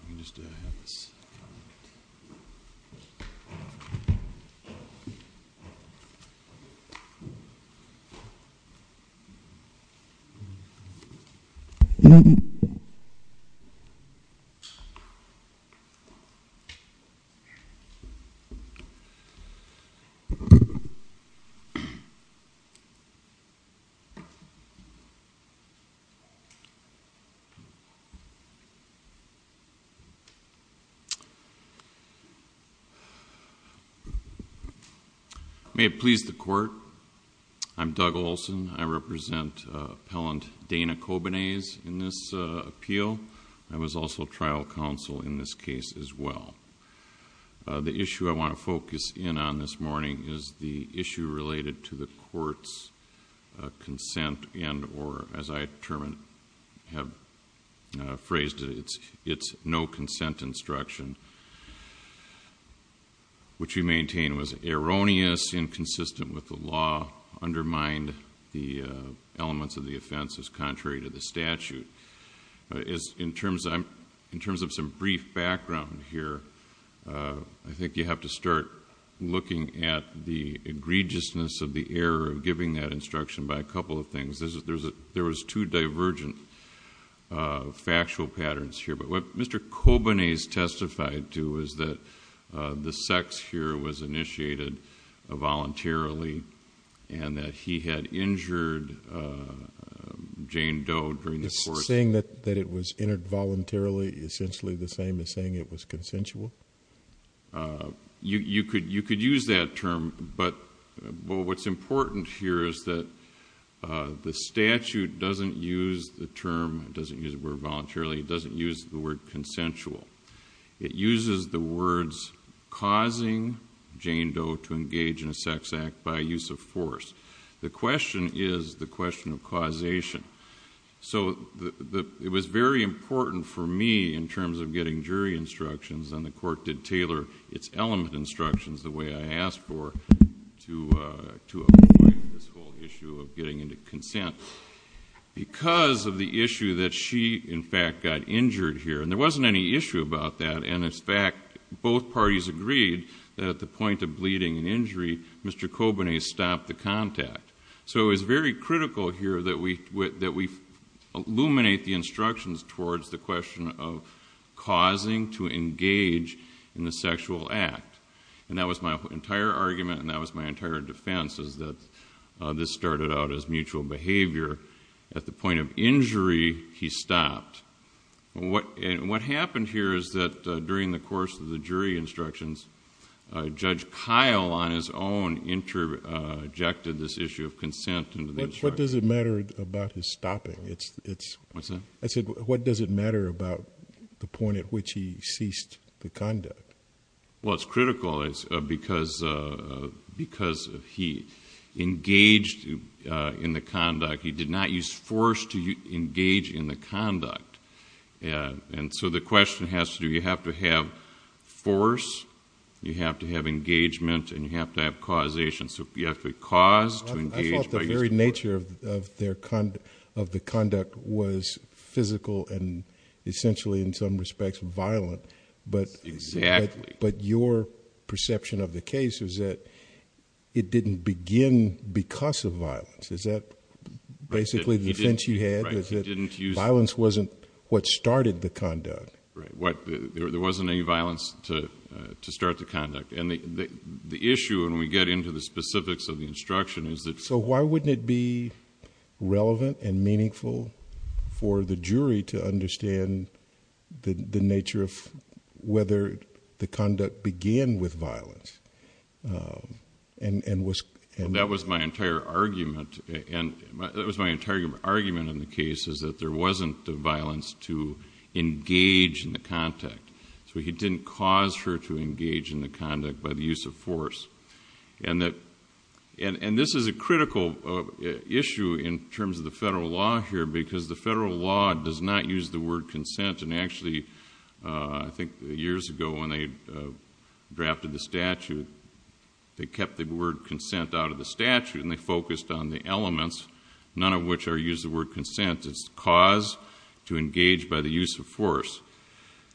Let me just have this. May it please the Court, I'm Doug Olson, I represent Appellant Dana Cobenais in this appeal. I was also trial counsel in this case as well. The issue I want to focus in on this morning is the issue related to the Court's consent as I have phrased it, it's no consent instruction, which we maintain was erroneous, inconsistent with the law, undermined the elements of the offense as contrary to the statute. In terms of some brief background here, I think you have to start looking at the egregiousness of the error of giving that instruction by a couple of things. There was two divergent factual patterns here, but what Mr. Cobenais testified to is that the sex here was initiated voluntarily and that he had injured Jane Doe during the court... Saying that it was entered voluntarily, essentially the same as saying it was consensual? You could use that term, but what's important here is that the statute doesn't use the term, it doesn't use the word voluntarily, it doesn't use the word consensual. It uses the words causing Jane Doe to engage in a sex act by use of force. The question is the question of causation. It was very important for me in terms of getting jury instructions, and the court did tailor its element instructions the way I asked for to avoid this whole issue of getting into consent, because of the issue that she, in fact, got injured here. There wasn't any issue about that, and in fact, both parties agreed that at the point of bleeding and injury, Mr. Cobenais stopped the contact. So it was very critical here that we illuminate the instructions towards the question of causing to engage in a sexual act, and that was my entire argument and that was my entire defense is that this started out as mutual behavior. At the point of injury, he stopped. What happened here is that during the course of the jury instructions, Judge Kyle on his own interjected this issue of consent into the instructions. What does it matter about his stopping? What's that? I said, what does it matter about the point at which he ceased the conduct? Well, it's critical because he engaged in the conduct. He did not use force to engage in the conduct, and so the question has to do, you have to have engagement and you have to have causation, so you have to cause to engage... I thought the very nature of the conduct was physical and essentially, in some respects, violent, but... Exactly..... but your perception of the case is that it didn't begin because of violence. Is that basically the defense you had, is that violence wasn't what started the conduct? Right. There wasn't any violence to start the conduct, and the issue when we get into the specifics of the instruction is that... So, why wouldn't it be relevant and meaningful for the jury to understand the nature of whether the conduct began with violence and was... That was my entire argument, and that was my entire argument in the case is that there he didn't cause her to engage in the conduct by the use of force. This is a critical issue in terms of the federal law here because the federal law does not use the word consent, and actually, I think years ago when they drafted the statute, they kept the word consent out of the statute and they focused on the elements, none of which use the word consent. It's cause to engage by the use of force.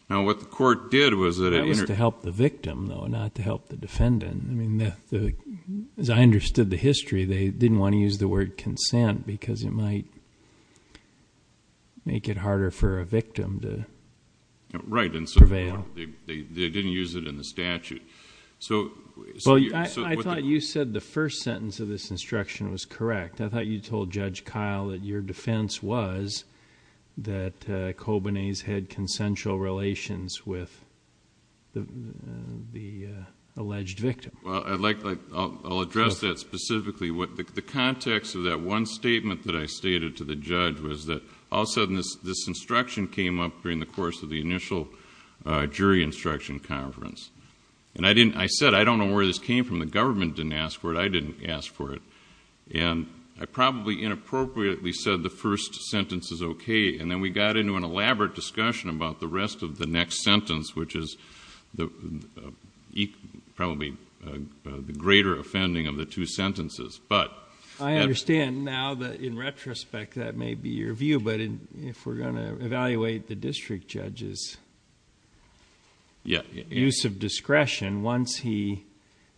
Now, what the court did was that... That was to help the victim though, not to help the defendant. I mean, as I understood the history, they didn't want to use the word consent because it might make it harder for a victim to... Right.... prevail. They didn't use it in the statute. So... Well, I thought you said the first sentence of this instruction was correct. I thought you told Judge Keil that your defense was that Kobanese had consensual relations with the alleged victim. Well, I'll address that specifically. The context of that one statement that I stated to the judge was that all of a sudden this instruction came up during the course of the initial jury instruction conference. And I said, I don't know where this came from. The government didn't ask for it, I didn't ask for it. And I probably inappropriately said the first sentence is okay. And then we got into an elaborate discussion about the rest of the next sentence, which is probably the greater offending of the two sentences. But... I understand now that in retrospect, that may be your view. But if we're going to evaluate the district judge's use of discretion, once he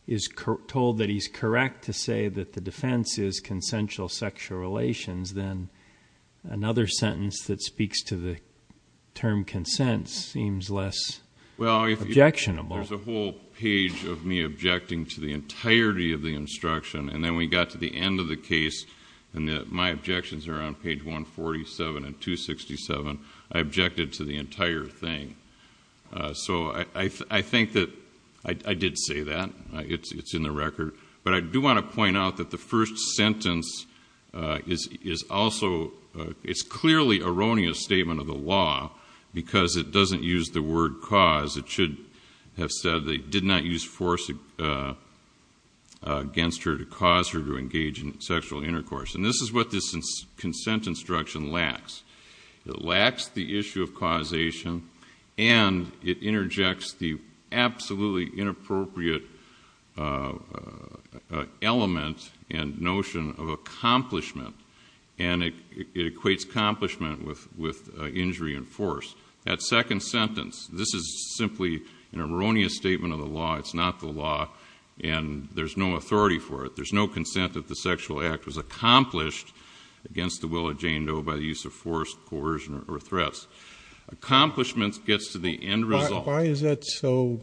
is told that he's correct to say that the defense is consensual sexual relations, then another sentence that speaks to the term consent seems less objectionable. Well, there's a whole page of me objecting to the entirety of the instruction. And then we got to the end of the case, and my objections are on page 147 and 267, I objected to the entire thing. So I think that I did say that. It's in the record. But I do want to point out that the first sentence is also... it's clearly erroneous statement of the law, because it doesn't use the word cause. It should have said they did not use force against her to cause her to engage in sexual intercourse. And this is what this consent instruction lacks. It lacks the issue of causation, and it interjects the absolutely inappropriate element and notion of accomplishment. And it equates accomplishment with injury and force. That second sentence, this is simply an erroneous statement of the law. It's not the law, and there's no authority for it. There's no consent that the sexual act was accomplished against the will of Jane Doe by the use of force, coercion, or threats. Accomplishments gets to the end result. Why is that so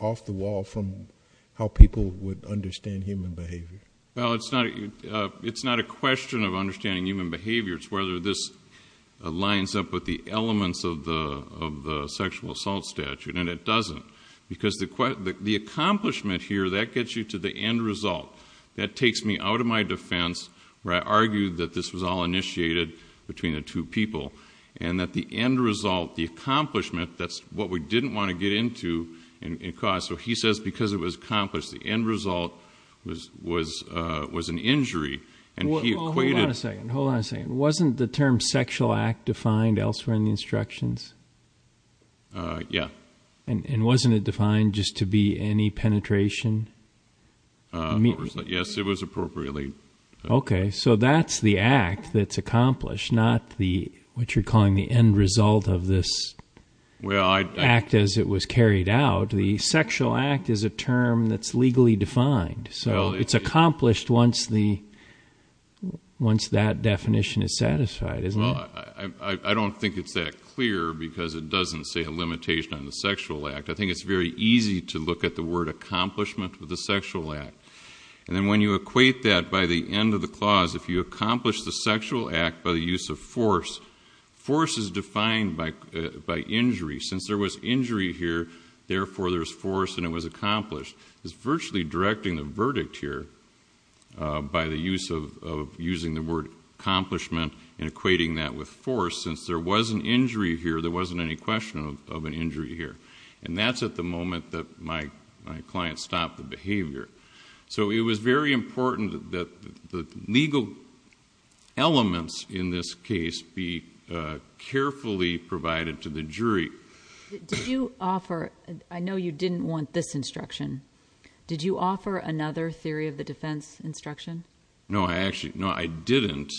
off the wall from how people would understand human behavior? Well, it's not a question of understanding human behavior, it's whether this lines up with the elements of the sexual assault statute, and it doesn't. Because the accomplishment here, that gets you to the end result. That takes me out of my defense, where I argue that this was all initiated between the two people, and that the end result, the accomplishment, that's what we didn't want to get into, and cause. So he says because it was accomplished, the end result was an injury, and he equated- Hold on a second. Hold on a second. Wasn't the term sexual act defined elsewhere in the instructions? Yeah. And wasn't it defined just to be any penetration? Yes, it was appropriately- Okay, so that's the act that's accomplished, not the, what you're calling the end result of this act as it was carried out. The sexual act is a term that's legally defined, so it's accomplished once that definition is satisfied, isn't it? Well, I don't think it's that clear, because it doesn't say a limitation on the sexual act. I think it's very easy to look at the word accomplishment with the sexual act, and then when you equate that by the end of the clause, if you accomplish the sexual act by the use of force, force is defined by injury. Since there was injury here, therefore there's force and it was accomplished. It's virtually directing the verdict here by the use of using the word accomplishment and equating that with force. Since there was an injury here, there wasn't any question of an injury here, and that's at the moment that my client stopped the behavior. So it was very important that the legal elements in this case be carefully provided to the jury. Did you offer... I know you didn't want this instruction. Did you offer another theory of the defense instruction? No, I actually... No, I didn't.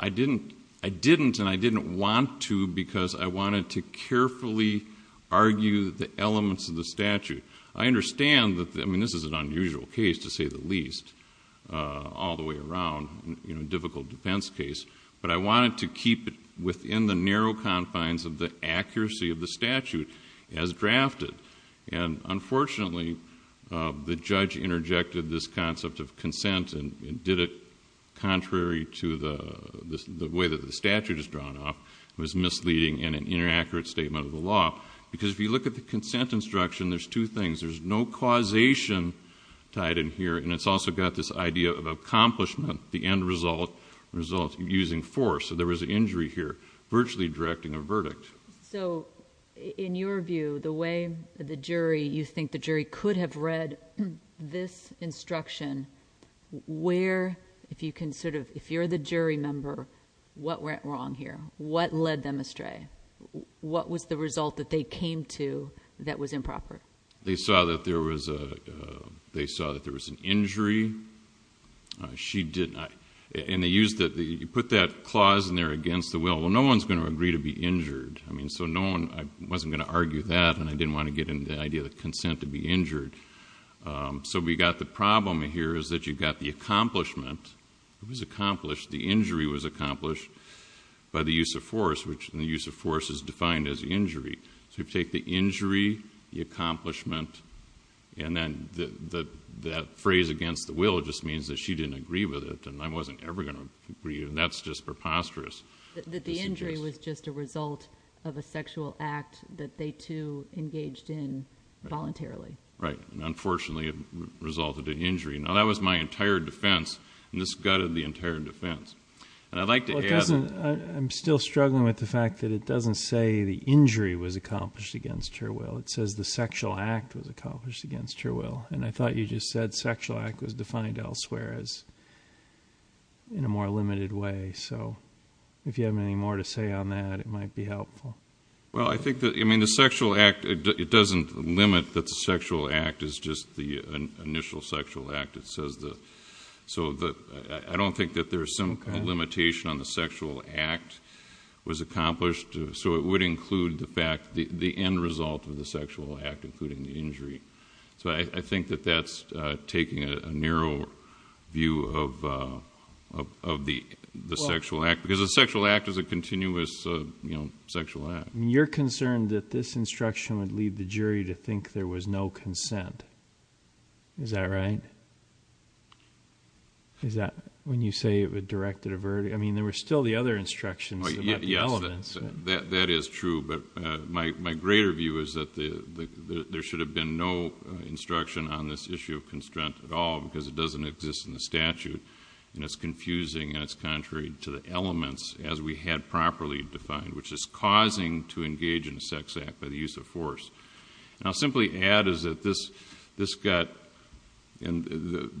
I didn't, and I didn't want to, because I wanted to carefully argue the elements of the statute. I understand that... I mean, this is an unusual case, to say the least, all the way around, you know, a difficult defense case, but I wanted to keep it within the narrow confines of the accuracy of the statute as drafted, and unfortunately, the judge interjected this concept of consent and did it contrary to the way that the statute is drawn up. It was misleading and an inaccurate statement of the law, because if you look at the consent instruction, there's two things. There's no causation tied in here, and it's also got this idea of accomplishment, the end result, using force. So, in your view, the way the jury... you think the jury could have read this instruction, where... if you're the jury member, what went wrong here? What led them astray? What was the result that they came to that was improper? They saw that there was an injury. She did not... and they used... you put that clause in there against the will. Well, no one's going to agree to be injured. I mean, so no one... I wasn't going to argue that, and I didn't want to get into the idea of the consent to be injured. So we got the problem here is that you've got the accomplishment, it was accomplished, the injury was accomplished by the use of force, which in the use of force is defined as injury. So you take the injury, the accomplishment, and then that phrase against the will just means that she didn't agree with it, and I wasn't ever going to agree, and that's just preposterous. That the injury was just a result of a sexual act that they, too, engaged in voluntarily. Right. And unfortunately, it resulted in injury. Now, that was my entire defense, and this gutted the entire defense, and I'd like to add... Well, it doesn't... I'm still struggling with the fact that it doesn't say the injury was accomplished against her will. It says the sexual act was accomplished against her will, and I thought you just said sexual act was defined elsewhere as in a more limited way. So if you have any more to say on that, it might be helpful. Well, I think that... I mean, the sexual act, it doesn't limit that the sexual act is just the initial sexual act. It says the... So I don't think that there's some limitation on the sexual act was accomplished, so it would include the fact, the end result of the sexual act, including the injury. So I think that that's taking a narrow view of the sexual act, because the sexual act is a continuous sexual act. You're concerned that this instruction would lead the jury to think there was no consent. Is that right? Is that... when you say it would direct a... I mean, there were still the other instructions about the elements. That is true, but my greater view is that there should have been no instruction on this issue of consent at all, because it doesn't exist in the statute, and it's confusing and it's contrary to the elements as we had properly defined, which is causing to engage in a sex act by the use of force. And I'll simply add is that this got... and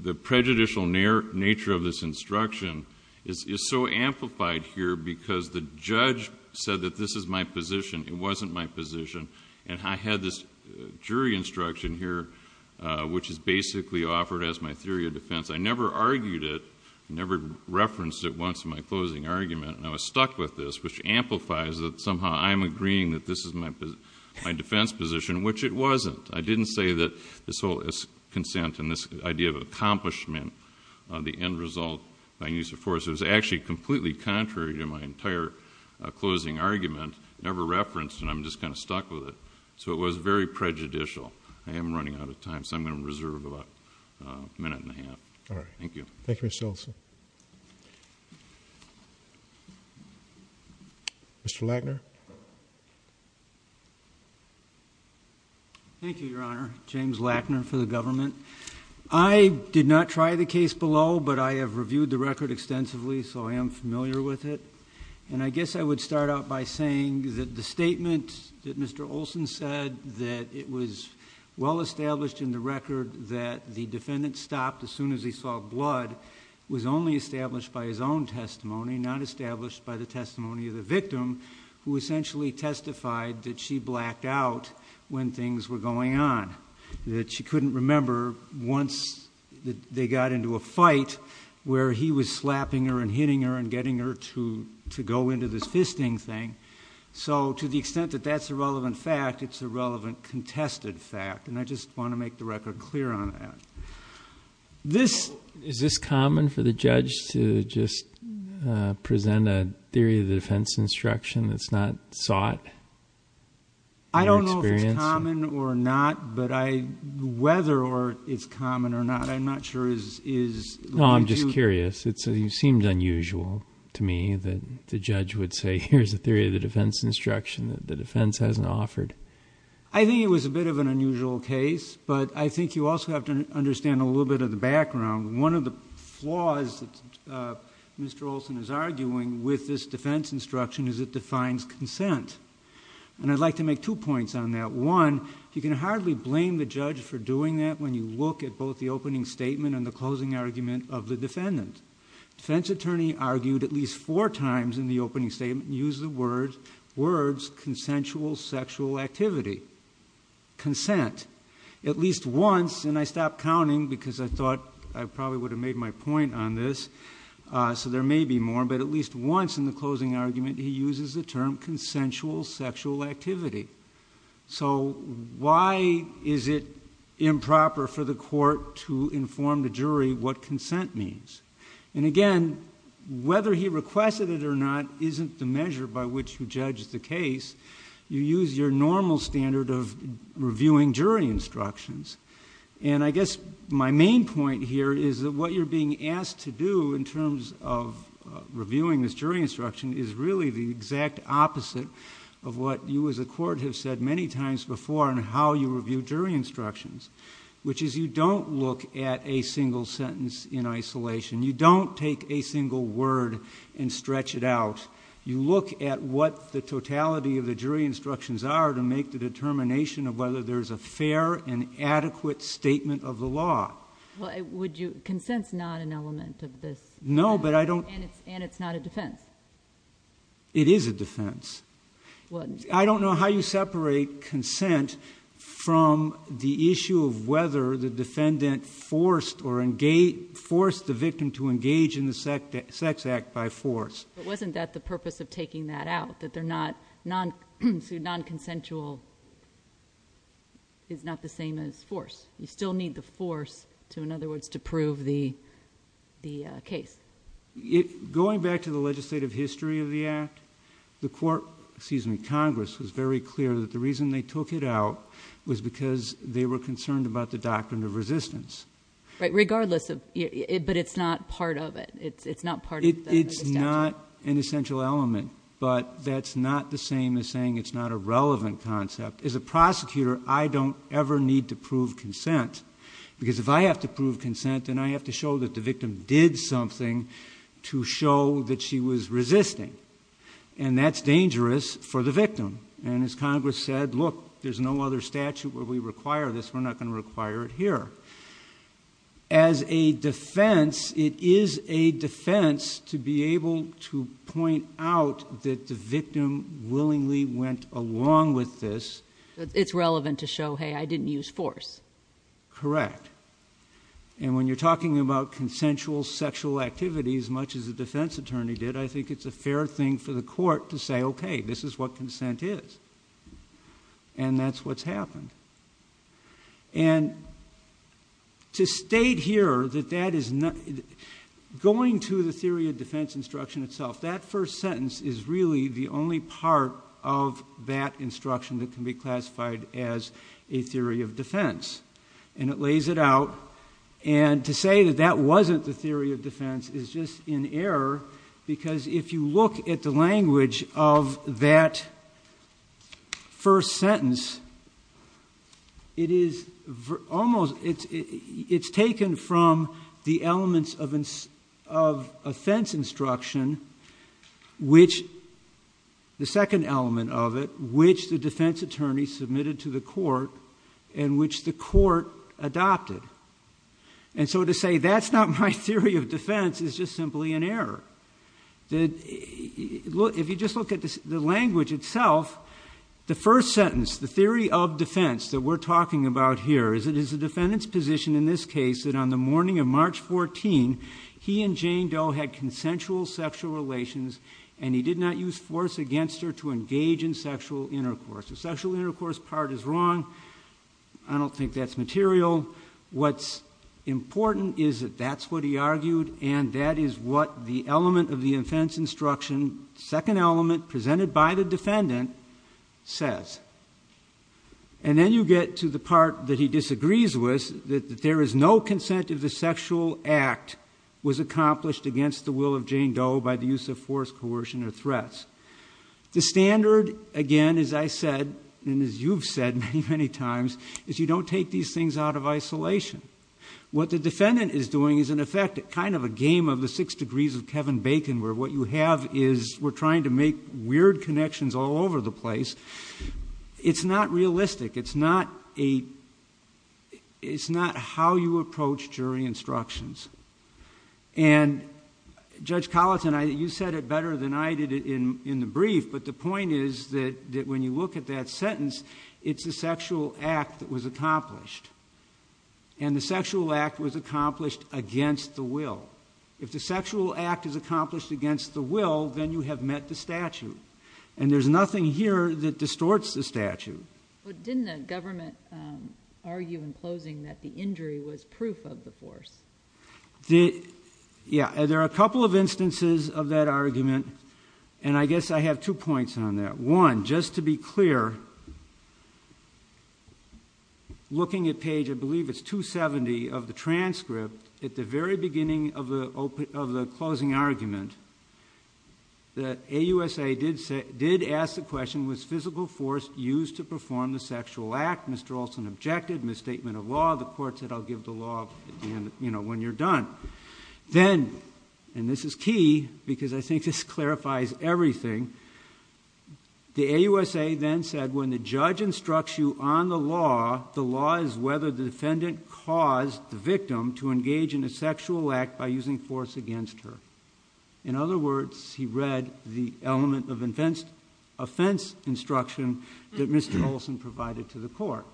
the prejudicial nature of this instruction is so amplified here, because the judge said that this is my position, it wasn't my position, and I had this jury instruction here, which is basically offered as my theory of defense. I never argued it, never referenced it once in my closing argument, and I was stuck with this, which amplifies that somehow I'm agreeing that this is my defense position, which it wasn't. I didn't say that this whole consent and this idea of accomplishment, the end result by use of force, it was actually completely contrary to my entire closing argument, never referenced, and I'm just kind of stuck with it. So it was very prejudicial. I am running out of time, so I'm going to reserve about a minute and a half. Thank you. All right. Thank you, Mr. Olson. Mr. Lackner? Thank you. Thank you, Your Honor. James Lackner for the government. I did not try the case below, but I have reviewed the record extensively, so I am familiar with it. I guess I would start out by saying that the statement that Mr. Olson said that it was well established in the record that the defendant stopped as soon as he saw blood was only established by his own testimony, not established by the testimony of the victim, who essentially testified that she blacked out when things were going on, that she couldn't remember once they got into a fight where he was slapping her and hitting her and getting her to go into this fisting thing. So to the extent that that's a relevant fact, it's a relevant contested fact, and I just want to make the record clear on that. Is this common for the judge to just present a theory of the defense instruction that's not sought? Your experience? I don't know if it's common or not, but I... whether it's common or not, I'm not sure is... No. I'm just curious. It seemed unusual to me that the judge would say, here's a theory of the defense instruction that the defense hasn't offered. I think it was a bit of an unusual case, but I think you also have to understand a little bit of the background. One of the flaws that Mr. Olson is arguing with this defense instruction is it defines consent. And I'd like to make two points on that. One, you can hardly blame the judge for doing that when you look at both the opening statement and the closing argument of the defendant. Defense attorney argued at least four times in the opening statement used the words consensual sexual activity, consent. At least once, and I stopped counting because I thought I probably would have made my point on this, so there may be more, but at least once in the closing argument, he uses the term consensual sexual activity. So why is it improper for the court to inform the jury what consent means? And again, whether he requested it or not isn't the measure by which you judge the case. You use your normal standard of reviewing jury instructions. And I guess my main point here is that what you're being asked to do in terms of reviewing this jury instruction is really the exact opposite of what you as a court have said many times before in how you review jury instructions, which is you don't look at a single sentence in isolation. You don't take a single word and stretch it out. You look at what the totality of the jury instructions are to make the determination of whether there's a fair and adequate statement of the law. Would you, consent's not an element of this. No, but I don't. And it's not a defense. It is a defense. I don't know how you separate consent from the issue of whether the defendant forced the victim to engage in the sex act by force. But wasn't that the purpose of taking that out, that non-consensual is not the same as force? You still need the force to, in other words, to prove the case. Going back to the legislative history of the Act, the court, excuse me, Congress was very clear that the reason they took it out was because they were concerned about the doctrine of resistance. Right, regardless of, but it's not part of it. It's not part of the statute. It's not an essential element, but that's not the same as saying it's not a relevant concept. As a prosecutor, I don't ever need to prove consent, because if I have to prove consent, then I have to show that the victim did something to show that she was resisting. And that's dangerous for the victim. And as Congress said, look, there's no other statute where we require this. We're not going to require it here. However, as a defense, it is a defense to be able to point out that the victim willingly went along with this. It's relevant to show, hey, I didn't use force. Correct. And when you're talking about consensual sexual activity, as much as a defense attorney did, I think it's a fair thing for the court to say, okay, this is what consent is. And that's what's happened. And to state here that that is not... going to the theory of defense instruction itself, that first sentence is really the only part of that instruction that can be classified as a theory of defense. And it lays it out. And to say that that wasn't the theory of defense is just in error, because if you look at the language of that first sentence, it is almost... it's taken from the elements of offense instruction, which... the second element of it, which the defense attorney submitted to the court and which the court adopted. And so to say that's not my theory of defense is just simply an error. If you just look at the language itself, the first sentence, the theory of defense that we're talking about here, is it is the defendant's position in this case that on the morning of March 14, he and Jane Doe had consensual sexual relations and he did not use force against her to engage in sexual intercourse. The sexual intercourse part is wrong. I don't think that's material. What's important is that that's what he argued and that is what the element of the offense instruction, second element presented by the defendant, says. And then you get to the part that he disagrees with, that there is no consent of the sexual act was accomplished against the will of Jane Doe by the use of force, coercion, or threats. The standard, again, as I said, and as you've said many, many times, is you don't take these things out of isolation. What the defendant is doing is in effect kind of a game of the six degrees of Kevin Bacon where what you have is we're trying to make weird connections all over the place. It's not realistic. It's not a... it's not how you approach jury instructions. And, Judge Colleton, you said it better than I did in the brief, but the point is that when you look at that sentence, it's the sexual act that was accomplished. And the sexual act was accomplished against the will. If the sexual act is accomplished against the will, then you have met the statute. And there's nothing here that distorts the statute. But didn't the government argue in closing that the injury was proof of the force? Yeah. There are a couple of instances of that argument, and I guess I have two points on that. One, just to be clear, looking at page, I believe it's 270 of the transcript, at the very beginning of the closing argument, the AUSA did ask the question, was physical force used to perform the sexual act? Mr. Olson objected, misstatement of law, the court said, I'll give the law when you're done. Then, and this is key, because I think this clarifies everything, the AUSA then said, when the judge instructs you on the law, the law is whether the defendant caused the victim to engage in a sexual act by using force against her. In other words, he read the element of offense instruction that Mr. Olson provided to the court.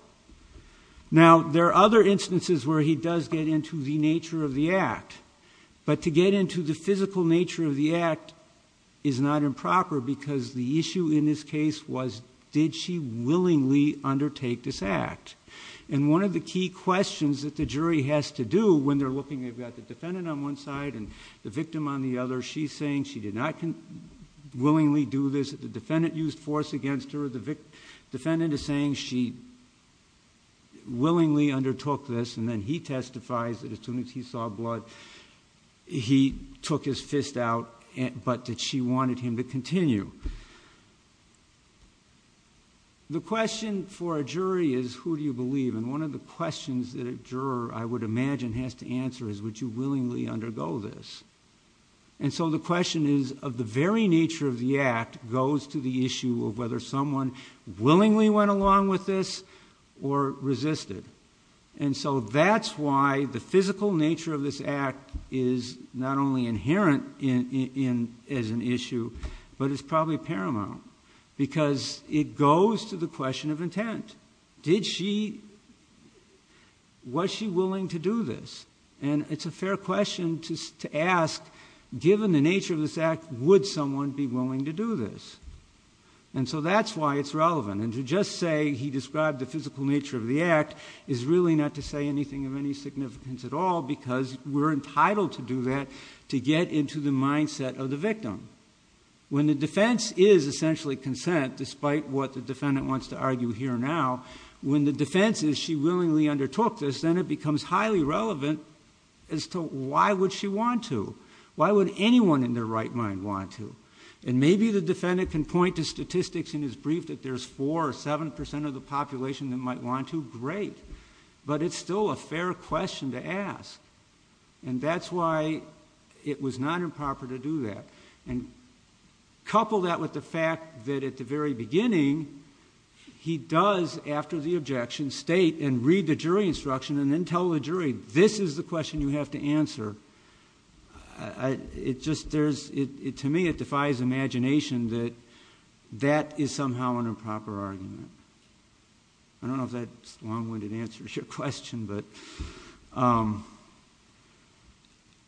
Now, there are other instances where he does get into the nature of the act. But to get into the physical nature of the act is not improper, because the issue in this case was, did she willingly undertake this act? And one of the key questions that the jury has to do when they're looking, they've got the defendant on one side and the victim on the other. She's saying she did not willingly do this. The defendant used force against her. The defendant is saying she willingly undertook this, and then he testifies that as soon as he saw blood, he took his fist out, but that she wanted him to continue. And one of the questions that a juror, I would imagine, has to answer is, would you willingly undergo this? And so the question is, of the very nature of the act goes to the issue of whether someone willingly went along with this or resisted. And so that's why the physical nature of this act is not only inherent as an issue, but it's probably paramount, because it goes to the question of intent. Did she, was she willing to do this? And it's a fair question to ask, given the nature of this act, would someone be willing to do this? And so that's why it's relevant. And to just say he described the physical nature of the act is really not to say anything of any significance at all, because we're entitled to do that to get into the mindset of the victim. When the defense is essentially consent, despite what the defendant wants to argue here and when the defense is she willingly undertook this, then it becomes highly relevant as to why would she want to? Why would anyone in their right mind want to? And maybe the defendant can point to statistics in his brief that there's 4 or 7% of the population that might want to, great. But it's still a fair question to ask. And that's why it was not improper to do that. And couple that with the fact that at the very beginning, he does, after the objection, state and read the jury instruction and then tell the jury, this is the question you have to answer. It just, there's, to me it defies imagination that that is somehow an improper argument. I don't know if that's a long-winded answer to your question, but.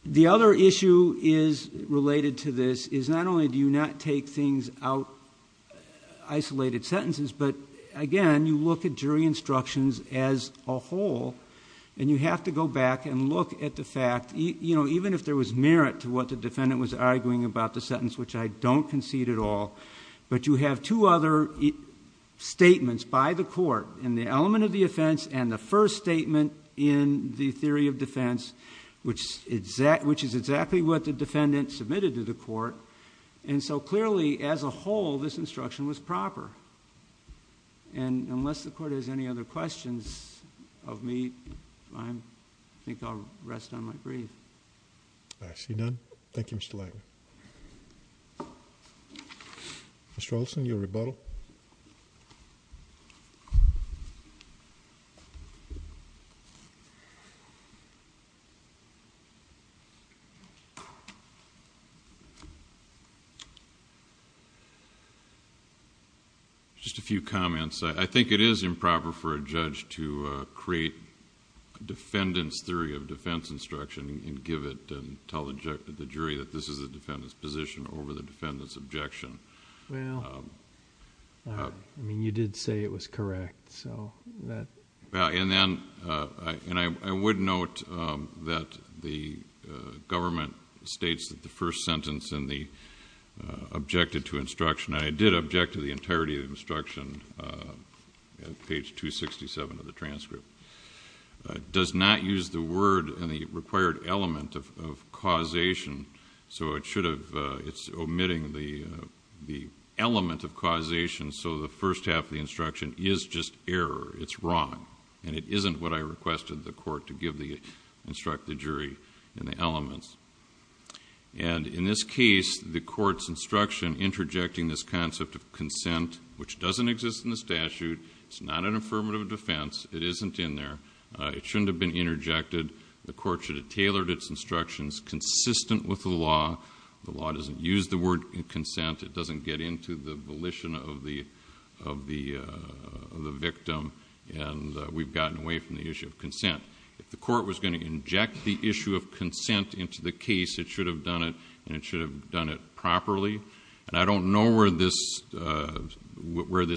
The other issue is related to this, is not only do you not take things out, isolated sentences, but again, you look at jury instructions as a whole and you have to go back and look at the fact, even if there was merit to what the defendant was arguing about the sentence, which I don't concede at all, but you have two other statements by the court in the element of the offense and the first statement in the theory of defense, which is exactly what the defendant submitted to the court. And so clearly, as a whole, this instruction was proper. And unless the court has any other questions of me, I think I'll rest on my breath. I see none, thank you, Mr. Lager. Mr. Olson, your rebuttal. Mr. Olson. Just a few comments. I think it is improper for a judge to create a defendant's theory of defense instruction and give it and tell the jury that this is the defendant's position over the defendant's case. I mean, you did say it was correct, so that... And then, I would note that the government states that the first sentence in the objected to instruction, I did object to the entirety of the instruction, page 267 of the transcript, does not use the word in the required element of causation, so it should have, it's omitting the element of causation, so the first half of the instruction is just error, it's wrong. And it isn't what I requested the court to instruct the jury in the elements. And in this case, the court's instruction interjecting this concept of consent, which doesn't exist in the statute, it's not an affirmative defense, it isn't in there, it shouldn't have been interjected, the court should have tailored its instructions consistent with the law. The law doesn't use the word consent, it doesn't get into the volition of the victim, and we've gotten away from the issue of consent. If the court was going to inject the issue of consent into the case, it should have done it, and it should have done it properly, and I don't know where this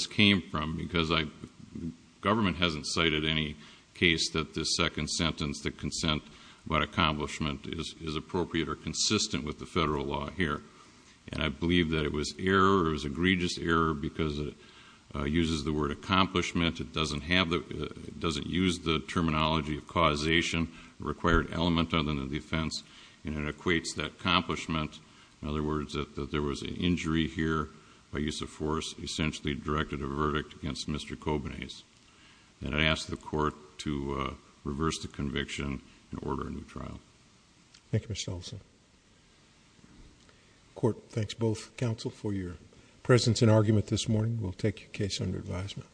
came from, because government hasn't cited any case that the second sentence, the consent by accomplishment, is appropriate or consistent with the federal law here. And I believe that it was error, it was egregious error, because it uses the word accomplishment, it doesn't have the, it doesn't use the terminology of causation, the required element of it in the defense, and it equates that accomplishment, in other words, that there was an injury here by use of force, essentially directed a verdict against Mr. Kobanais, and I ask the court to reverse the conviction and order a new trial. Thank you, Mr. Ellison. Court thanks both counsel for your presence and argument this morning. We'll take your case under advisement.